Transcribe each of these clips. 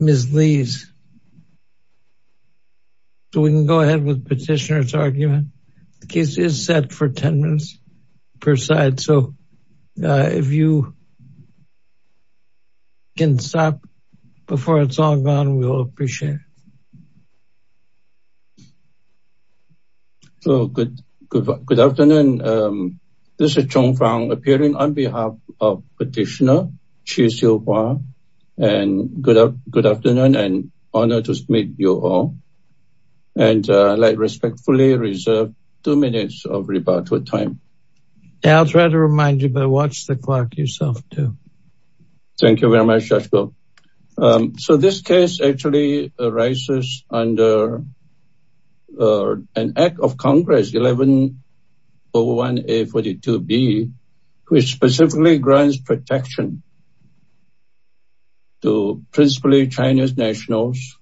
Ms. Lee's. So we can go ahead with petitioner's argument. The case is set for ten minutes per side. So if you can stop before it's all gone, we'll appreciate it. So good afternoon. This is Chung Fong appearing on behalf of Petitioner Chih-Siu-Hua and good afternoon and honor to meet you all. And I'd like to respectfully reserve two minutes of rebuttal time. I'll try to remind you, but watch the clock yourself too. Thank you very much, Judge Goh. So this case actually arises under an act of Congress 1101A-42B, which specifically grants protection to principally Chinese nationals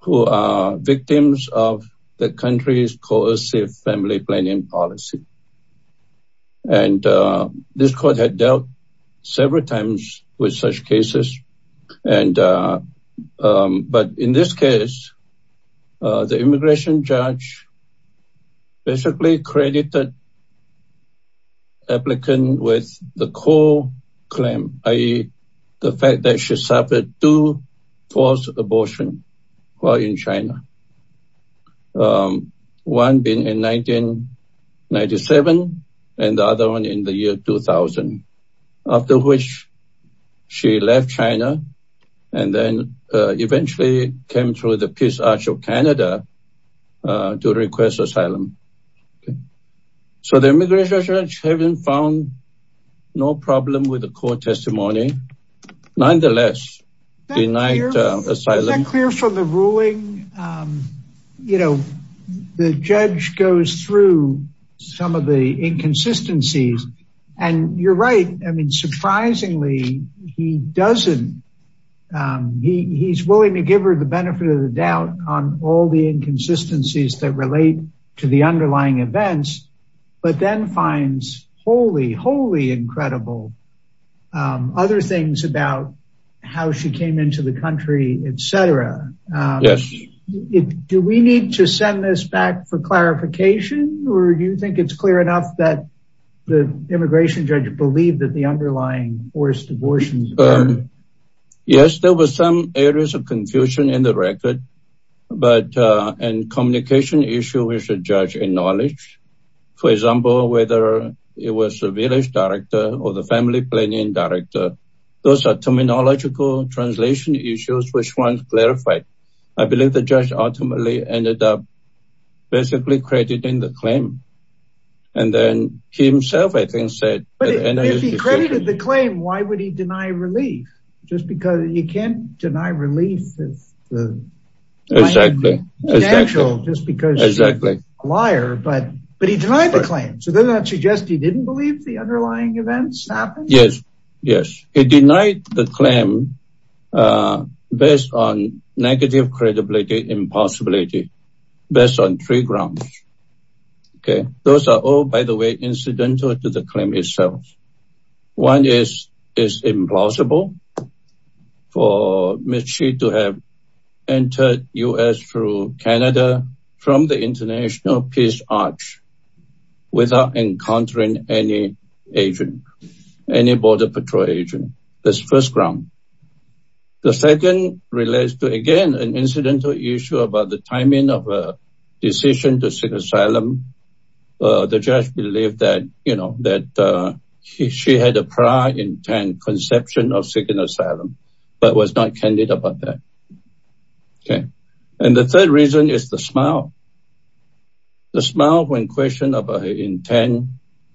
who are victims of the country's coercive family planning policy. And this court had dealt several times with such cases. But in this case, the immigration judge basically credited the applicant with the core claim, i.e. the fact that she suffered two false abortions while in China. One being in 1997 and the other one in the year 2000, after which she left China and then eventually came to the Peace Arch of Canada to request asylum. So the immigration judge found no problem with the court testimony. Nonetheless, denied asylum. Is that clear from the ruling? You know, the judge goes through some of the inconsistencies. And you're right. I mean, surprisingly, he doesn't. He's willing to give her the benefit of the doubt on all the inconsistencies that relate to the underlying events, but then finds wholly, wholly incredible other things about how she came into the country, etc. Yes. Do we need to send this back for clarification? Or do you think it's clear enough that the immigration judge believed that the underlying forced abortions? Yes, there was some areas of confusion in the record. But in communication issue, the judge acknowledged. For example, whether it was the village director or the family planning director. Those are terminological translation issues which weren't clarified. I believe the judge ultimately ended up basically crediting the claim. And then he himself, I think, said... But if he credited the claim, why would he deny relief? Just because you can't deny relief. Exactly. It's not natural just because you're a liar. But he denied the claim. So does that suggest he didn't believe the underlying events happened? Yes. Yes. He denied the claim based on negative credibility, impossibility, based on three grounds. Okay. Those are all, by the way, incidental to the claim itself. One is, it's implausible for Ms. Shi to have entered the US through Canada from the International Peace Arch without encountering any agent, any Border Patrol agent. That's the first ground. The second relates to, again, an incidental issue about the timing of a decision to seek asylum. The judge believed that, you know, that she had a prior intent conception of seeking asylum, but was not candid about that. Okay. And the third reason is the smile. The smile when questioned about her intent,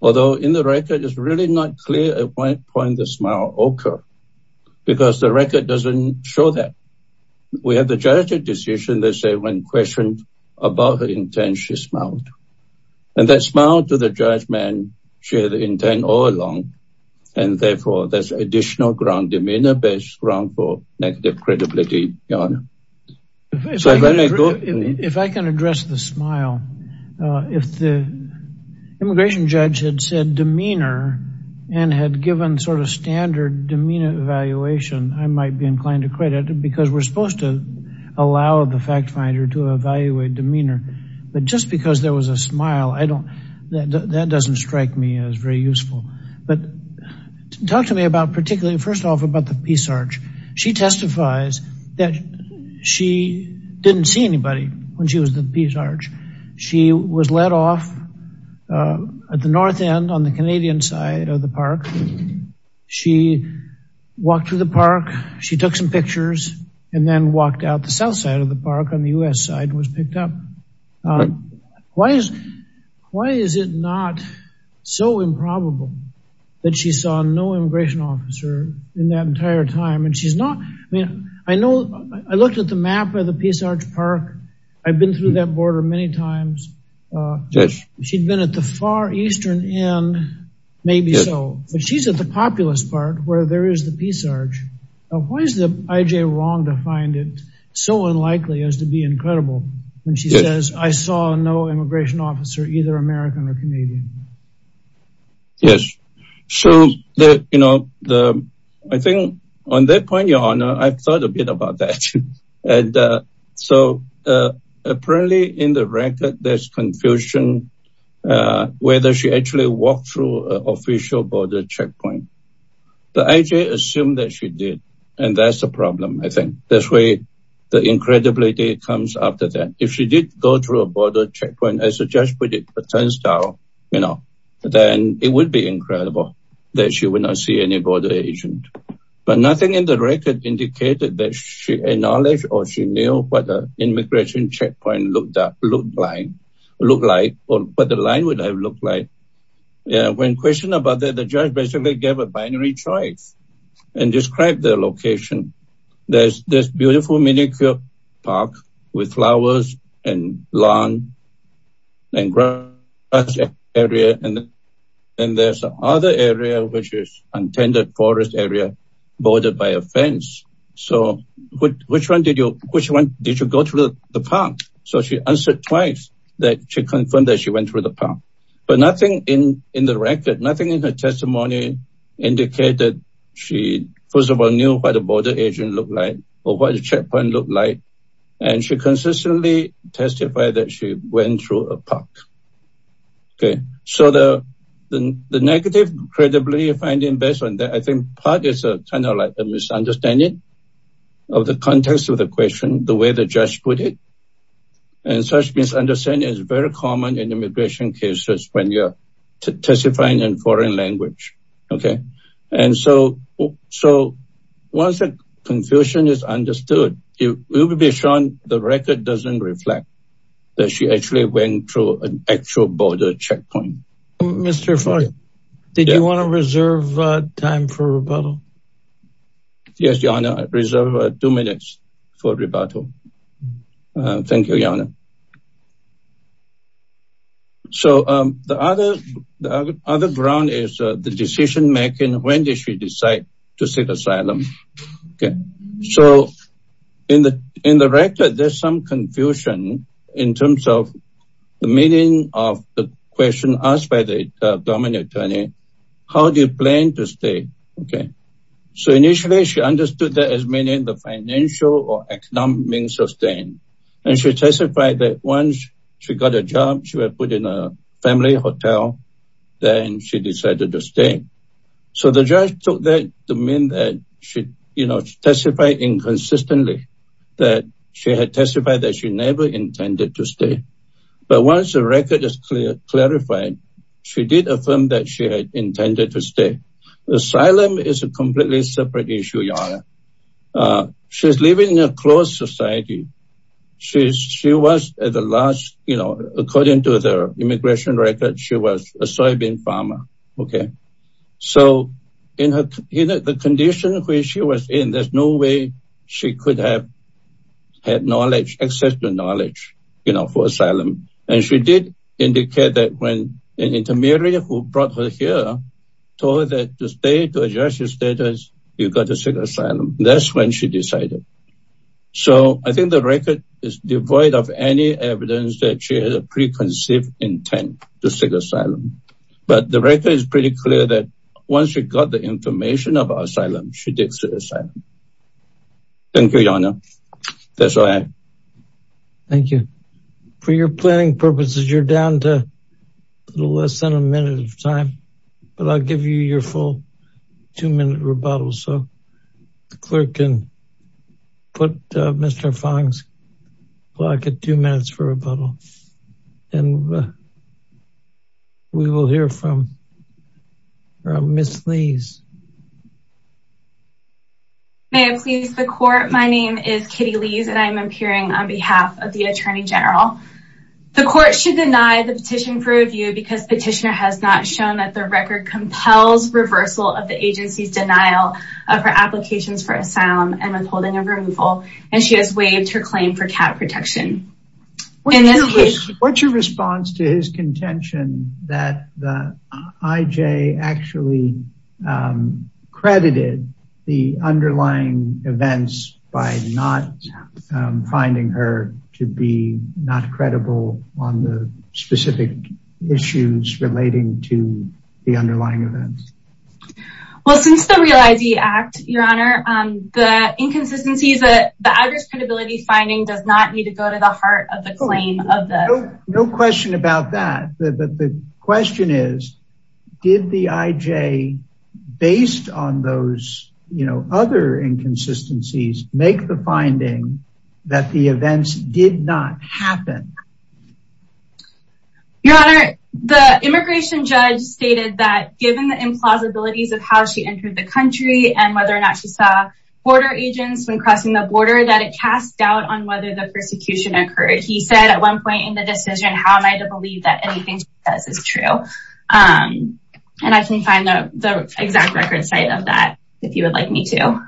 although in the record it's really not clear at what point the smile occurred, because the record doesn't show that. We have the judge's decision. They say when questioned about her intent, she smiled. And that smile to the judge meant she had the intent all along. And therefore, there's additional ground, demeanor-based ground for negative credibility, Your Honor. If I can address the smile. If the immigration judge had said demeanor, and had given sort of standard demeanor evaluation, I might be inclined to credit because we're supposed to allow the fact finder to evaluate demeanor. But just because there was a smile, I don't, that doesn't strike me as very useful. But talk to me about particularly, first off, about the Peace Arch. She testifies that she didn't see anybody when she was at the Peace Arch. She was let off at the north end on the Canadian side of the park. She walked through the park. She took some pictures and then walked out the south side of the park on the U.S. side and was picked up. Why is it not so improbable that she saw no immigration officer in that entire time? And she's not, I mean, I know, I looked at the map of the Peace Arch Park. I've been through that border many times. She'd been at the far eastern end, maybe so. But she's at the populous part where there is the Peace Arch. Why is the IJ wrong to find it so unlikely as to be incredible when she says, I saw no immigration officer, either American or Canadian? Yes. So the, you know, the, I think on that point, Your Honor, I've thought a bit about that. And so apparently in the record, there's confusion whether she actually walked through an official border checkpoint. The IJ assumed that she did. And that's the problem, I think. That's where the incredibility comes after that. If she did go through a border checkpoint, as the judge put it, a turnstile, you know, then it would be incredible that she would not see any border agent. But nothing in the record indicated that she acknowledged or she knew what the immigration checkpoint looked like or what the line would have looked like. Yeah, when questioned about that, the judge basically gave a binary choice and described the location. There's this beautiful minicube park with flowers and lawn and grass area. And then there's another area, which is untended forest area bordered by a fence. So which one did you, which one did you go through the park? So she answered twice that confirmed that she went through the park. But nothing in the record, nothing in her testimony indicated she first of all knew what a border agent looked like or what the checkpoint looked like. And she consistently testified that she went through a park. Okay, so the negative credibility finding based on that, I think part is kind of like a misunderstanding of the context of the question, the way the judge put it. And such misunderstanding is very common in immigration cases when you're testifying in foreign language. Okay. And so once the confusion is understood, it will be shown the record doesn't reflect that she actually went through an actual border checkpoint. Mr. Foy, did you want to reserve time for rebuttal? Yes, Your Honor, I reserve two minutes for rebuttal. Thank you, Your Honor. So the other ground is the decision making, when did she decide to seek asylum? Okay. So in the record, there's some confusion in terms of the meaning of the question asked by the financial or economic sustain. And she testified that once she got a job, she was put in a family hotel, then she decided to stay. So the judge took that to mean that she testified inconsistently that she had testified that she never intended to stay. But once the record is clarified, she did affirm that she had intended to stay. Asylum is a completely separate issue, Your Honor. She's living in a closed society. She was at the last, you know, according to the immigration record, she was a soybean farmer. Okay. So in the condition where she was in, there's no way she could have had knowledge, access to knowledge, you know, for asylum. And she did indicate that when an intermediary who brought her here told her that to stay, to adjust your status, you got to seek asylum. That's when she decided. So I think the record is devoid of any evidence that she had a preconceived intent to seek asylum. But the record is pretty clear that once she got the information about asylum, she did seek asylum. Thank you, Your Honor. That's all I have. Thank you. For your planning purposes, you're down to a little less than a minute of time, but I'll give you your full two minute rebuttal. So the clerk can put Mr. Fong's block at two minutes for rebuttal. And we will hear from Miss Lees. May it please the court. My name is Kitty Lees and I'm appearing on behalf of the Attorney General. The court should deny the petition for review because the petitioner has not shown that the record compels reversal of the agency's denial of her applications for asylum and withholding of removal. And she has waived her claim for cat protection. What's your response to his contention that the IJ actually credited the underlying events by not finding her to be not credible on the specific issues relating to the underlying events? Well, since the Real ID Act, Your Honor, the inconsistencies that the average credibility finding does not need to go to the heart of the of the no question about that. The question is, did the IJ based on those, you know, other inconsistencies make the finding that the events did not happen? Your Honor, the immigration judge stated that given the implausibilities of how she entered the country and whether or not she saw border agents when crossing the border that it cast doubt on whether the persecution occurred. He said at one point in the decision, how am I to believe that anything she says is true? And I can find the exact record site of that if you would like me to.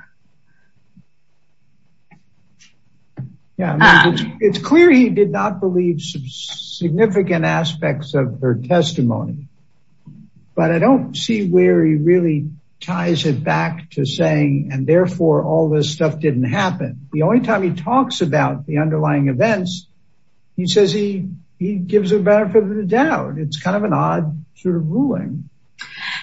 Yeah, it's clear he did not believe some significant aspects of her testimony. But I don't see where he really ties it back to saying and therefore all this stuff didn't happen. The only time he talks about the underlying events, he says he he gives a benefit of the doubt. It's kind of an odd sort of ruling.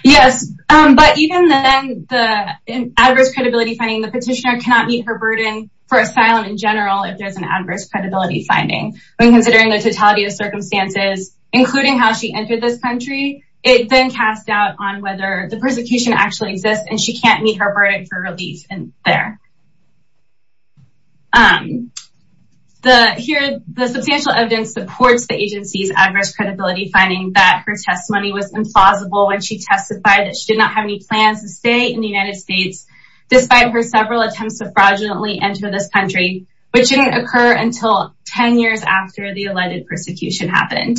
Yes, but even then the adverse credibility finding the petitioner cannot meet her burden for asylum in general if there's an adverse credibility finding when considering the totality of circumstances, including how she entered this country, it then cast doubt on whether the persecution actually exists and she can't meet her burden for relief. And there. The substantial evidence supports the agency's adverse credibility finding that her testimony was implausible when she testified that she did not have any plans to stay in the United States, despite her several attempts to fraudulently enter this country, which didn't occur until 10 years after the alleged persecution happened.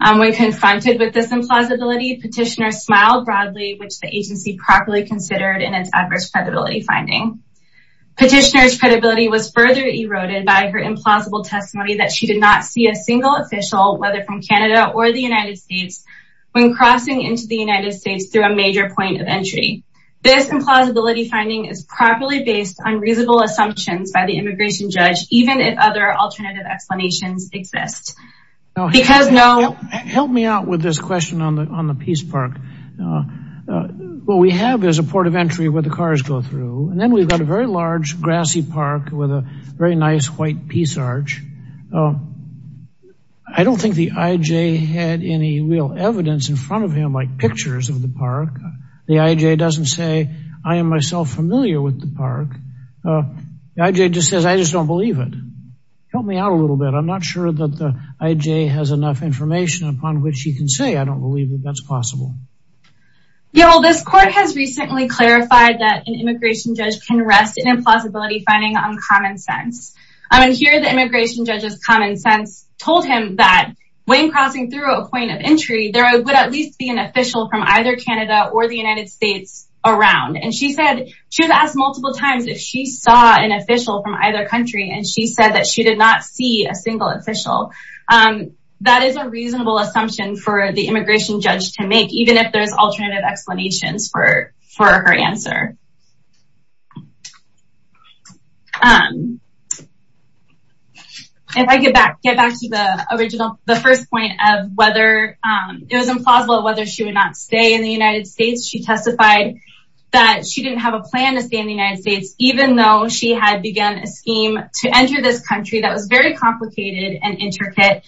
When confronted with this implausibility, petitioner smiled broadly, which the agency properly considered in its adverse credibility finding. Petitioners credibility was further eroded by her implausible testimony that she did not see a single official, whether from Canada or the United States, when crossing into the United States through a major point of entry. This implausibility finding is properly based on reasonable assumptions by the immigration judge, even if other alternative explanations exist. Because no, help me out with this question on the Peace Park. What we have is a port of entry where the cars go through and then we've got a very large grassy park with a very nice white peace arch. I don't think the IJ had any real evidence in front of him like pictures of the park. The IJ doesn't say, I am myself familiar with the park. The IJ just says, I just don't believe it. Help me out a little bit. I'm not that's possible. Yeah, well, this court has recently clarified that an immigration judge can rest in implausibility finding on common sense. I mean, here, the immigration judges common sense told him that when crossing through a point of entry, there would at least be an official from either Canada or the United States around and she said she was asked multiple times if she saw an official from either country and she said that she did not see a single official. And that is a reasonable assumption for the immigration judge to make, even if there's alternative explanations for her answer. If I get back to the original, the first point of whether it was implausible whether she would not stay in the United States, she testified that she didn't have a plan to stay in the United States, even though she had begun a scheme to enter this country that was very complicated and intricate.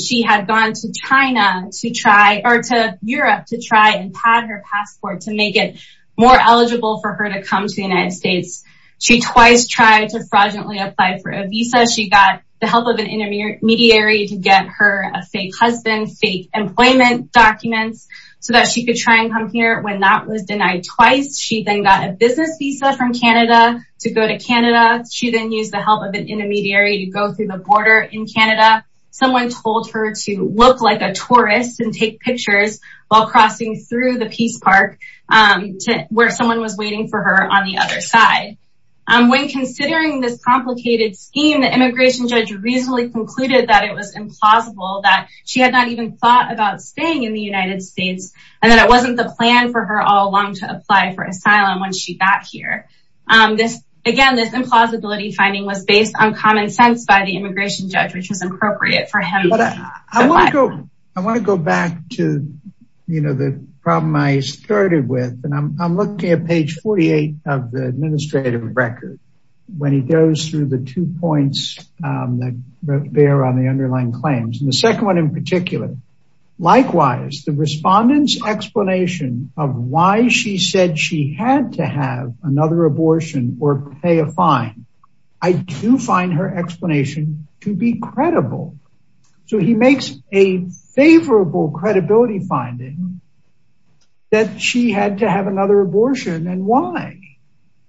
She had gone to China to try or to Europe to try and pad her passport to make it more eligible for her to come to the United States. She twice tried to fraudulently apply for a visa. She got the help of an intermediary to get her a fake husband, fake employment documents so that she could try and come here when that was denied twice. She then got a business visa from Canada to go to Canada. She then used the help of an intermediary to go through the Canada. Someone told her to look like a tourist and take pictures while crossing through the Peace Park to where someone was waiting for her on the other side. When considering this complicated scheme, the immigration judge reasonably concluded that it was implausible that she had not even thought about staying in the United States and that it wasn't the plan for her all along to apply for asylum when she got here. This again, this implausibility finding was based on common sense by the immigration judge, which was appropriate for him. I want to go back to the problem I started with and I'm looking at page 48 of the administrative record when he goes through the two points that bear on the underlying claims and the second one in particular. Likewise, the respondents explanation of why she said she had to have another abortion or pay a fine. I do find her explanation to be credible. So he makes a favorable credibility finding that she had to have another abortion and why?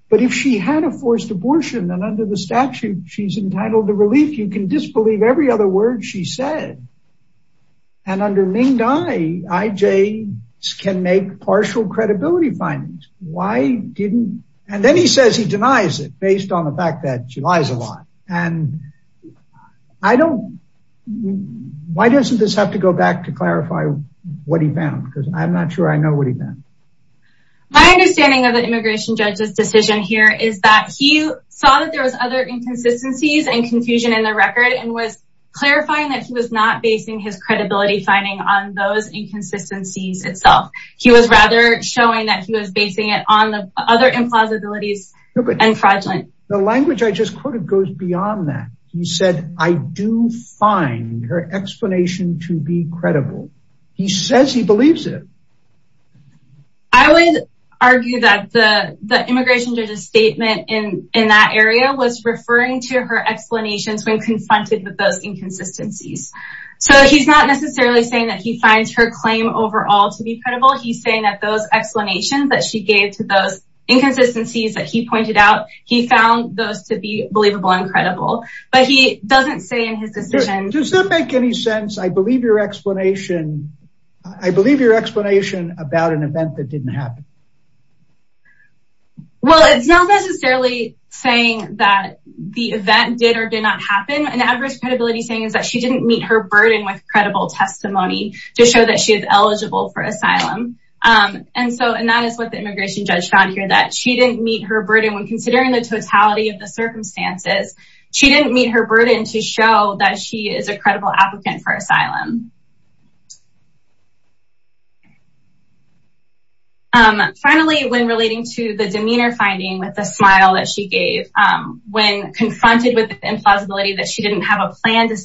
But if she had a forced abortion and under the statute, she's entitled to relief, you can disbelieve every other word she said. And under Ming Dai, IJ can make partial credibility findings. Why didn't and then he says he denies it based on the fact that she lies a lot. And I don't. Why doesn't this have to go back to clarify what he found? Because I'm not sure I know what he meant. My understanding of the immigration judge's decision here is that he saw that there was other inconsistencies and confusion in the record and was clarifying that he was not basing his on the other implausibilities and fraudulent. The language I just quoted goes beyond that. He said, I do find her explanation to be credible. He says he believes it. I would argue that the immigration judge's statement in in that area was referring to her explanations when confronted with those inconsistencies. So he's not necessarily saying that he finds her claim overall to be credible. He's saying that those explanations that she gave to those inconsistencies that he pointed out, he found those to be believable and credible. But he doesn't say in his decision, does that make any sense? I believe your explanation. I believe your explanation about an event that didn't happen. Well, it's not necessarily saying that the event did or did not happen. And adverse credibility saying is that she didn't meet her burden with credible testimony to show that she is eligible for asylum. And so that is what the immigration judge found here that she didn't meet her burden when considering the totality of the circumstances. She didn't meet her burden to show that she is a credible applicant for asylum. Finally, when relating to the demeanor finding with the smile that she gave when confronted with the implausibility that she didn't have a plan to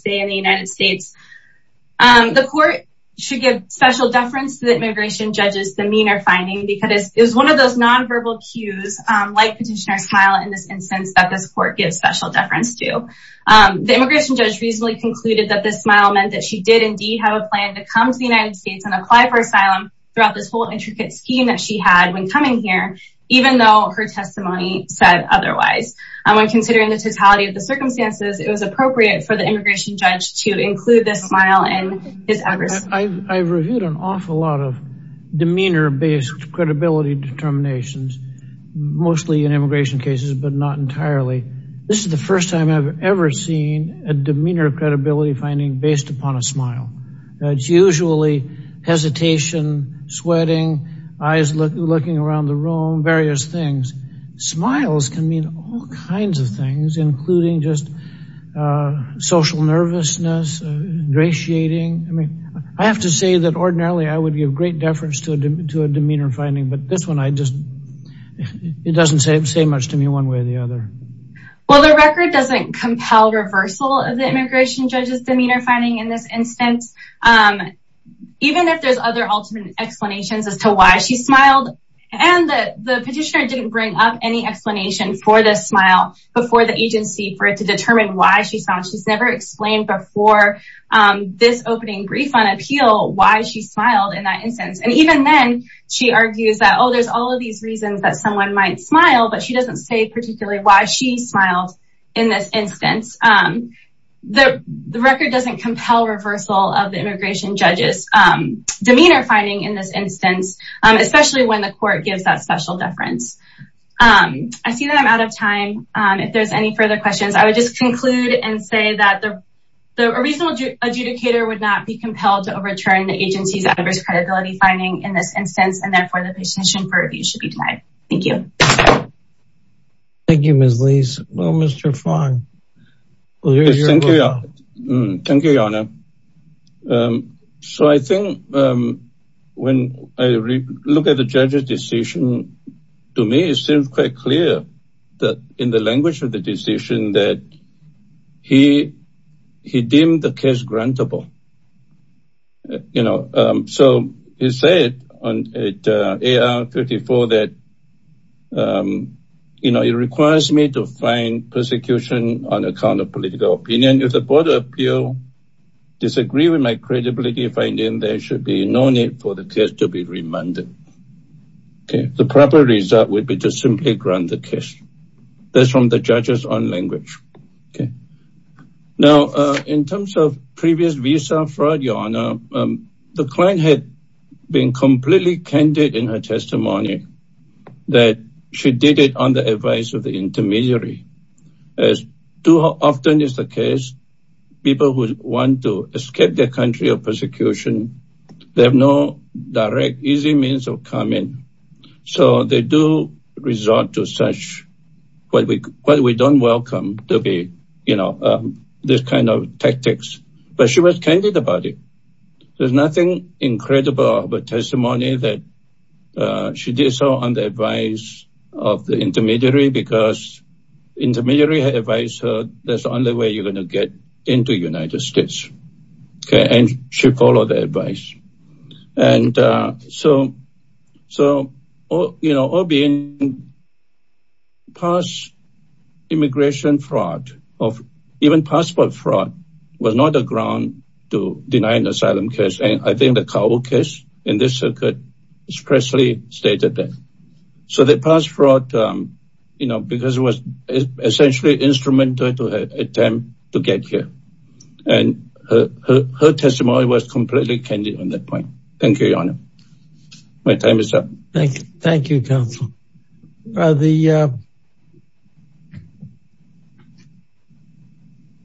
the immigration judges demeanor finding because it was one of those nonverbal cues, like petitioner smile in this instance that this court gives special deference to the immigration judge reasonably concluded that this smile meant that she did indeed have a plan to come to the United States and apply for asylum throughout this whole intricate scheme that she had when coming here, even though her testimony said otherwise, when considering the totality of the circumstances, it was appropriate for the immigration judge to include this smile and I've reviewed an awful lot of demeanor based credibility determinations, mostly in immigration cases, but not entirely. This is the first time I've ever seen a demeanor credibility finding based upon a smile. It's usually hesitation, sweating, eyes looking around the room, various things, smiles can mean all kinds of things, including just social nervousness, gratiating, I mean, I have to say that ordinarily, I would give great deference to a demeanor finding. But this one, I just, it doesn't say much to me one way or the other. Well, the record doesn't compel reversal of the immigration judges demeanor finding in this instance. Even if there's other ultimate explanations as to why she smiled, and the petitioner didn't bring up any explanation for this smile before the agency for it to determine why she saw she's never explained before this opening brief on appeal, why she smiled in that instance. And even then, she argues that, oh, there's all of these reasons that someone might smile, but she doesn't say particularly why she smiled. In this instance, the record doesn't compel reversal of the immigration judges demeanor finding in this instance, especially when the court gives that special deference. I see that I'm out of time. If there's any further questions, I would just conclude and say that a reasonable adjudicator would not be compelled to overturn the agency's adverse credibility finding in this instance, and therefore the petition for review should be denied. Thank you. Thank you, Ms. Lees. Well, Mr. Fong. Thank you, Your Honor. So I think when I look at the judge's decision, to me, it seems quite clear that in the language of the decision that he deemed the case grantable. You know, so he said on AR-54 that you know, it requires me to find persecution on account of political opinion. If the Board of Appeals disagree with my credibility finding, there should be no need for the case to be remanded. Okay, the proper result would be to simply grant the case. That's from the judge's own language. Now, in terms of previous visa fraud, Your Honor, the client had been completely candid in her testimony that she did it on the advice of the intermediary. As too often is the case, people who want to escape their country of persecution, they have no direct, easy means of coming. So they do resort to such, what we don't welcome to be, you know, this kind of tactics. But she was candid about it. There's nothing incredible about testimony that she did so on the advice of the intermediary because intermediary had advised her that's the only way you're going to get into the United States. Okay, and she followed the advice. And so, you know, all being past immigration fraud, even passport fraud was not a ground to deny an asylum case. And I think the Kabul case in this circuit expressly stated that. So the passport, you know, because it was the only way to get here. And her testimony was completely candid on that point. Thank you, Your Honor. My time is up. Thank you. Thank you, counsel. The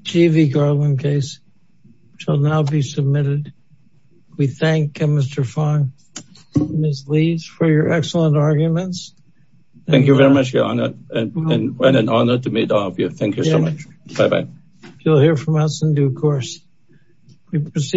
G.V. Garland case shall now be submitted. We thank Mr. Fong and Ms. Leeds for your excellent arguments. Thank you very much, Your Honor. And what an honor to meet all of you. Thank you so much. Bye-bye. You'll hear from us in due course. We proceed.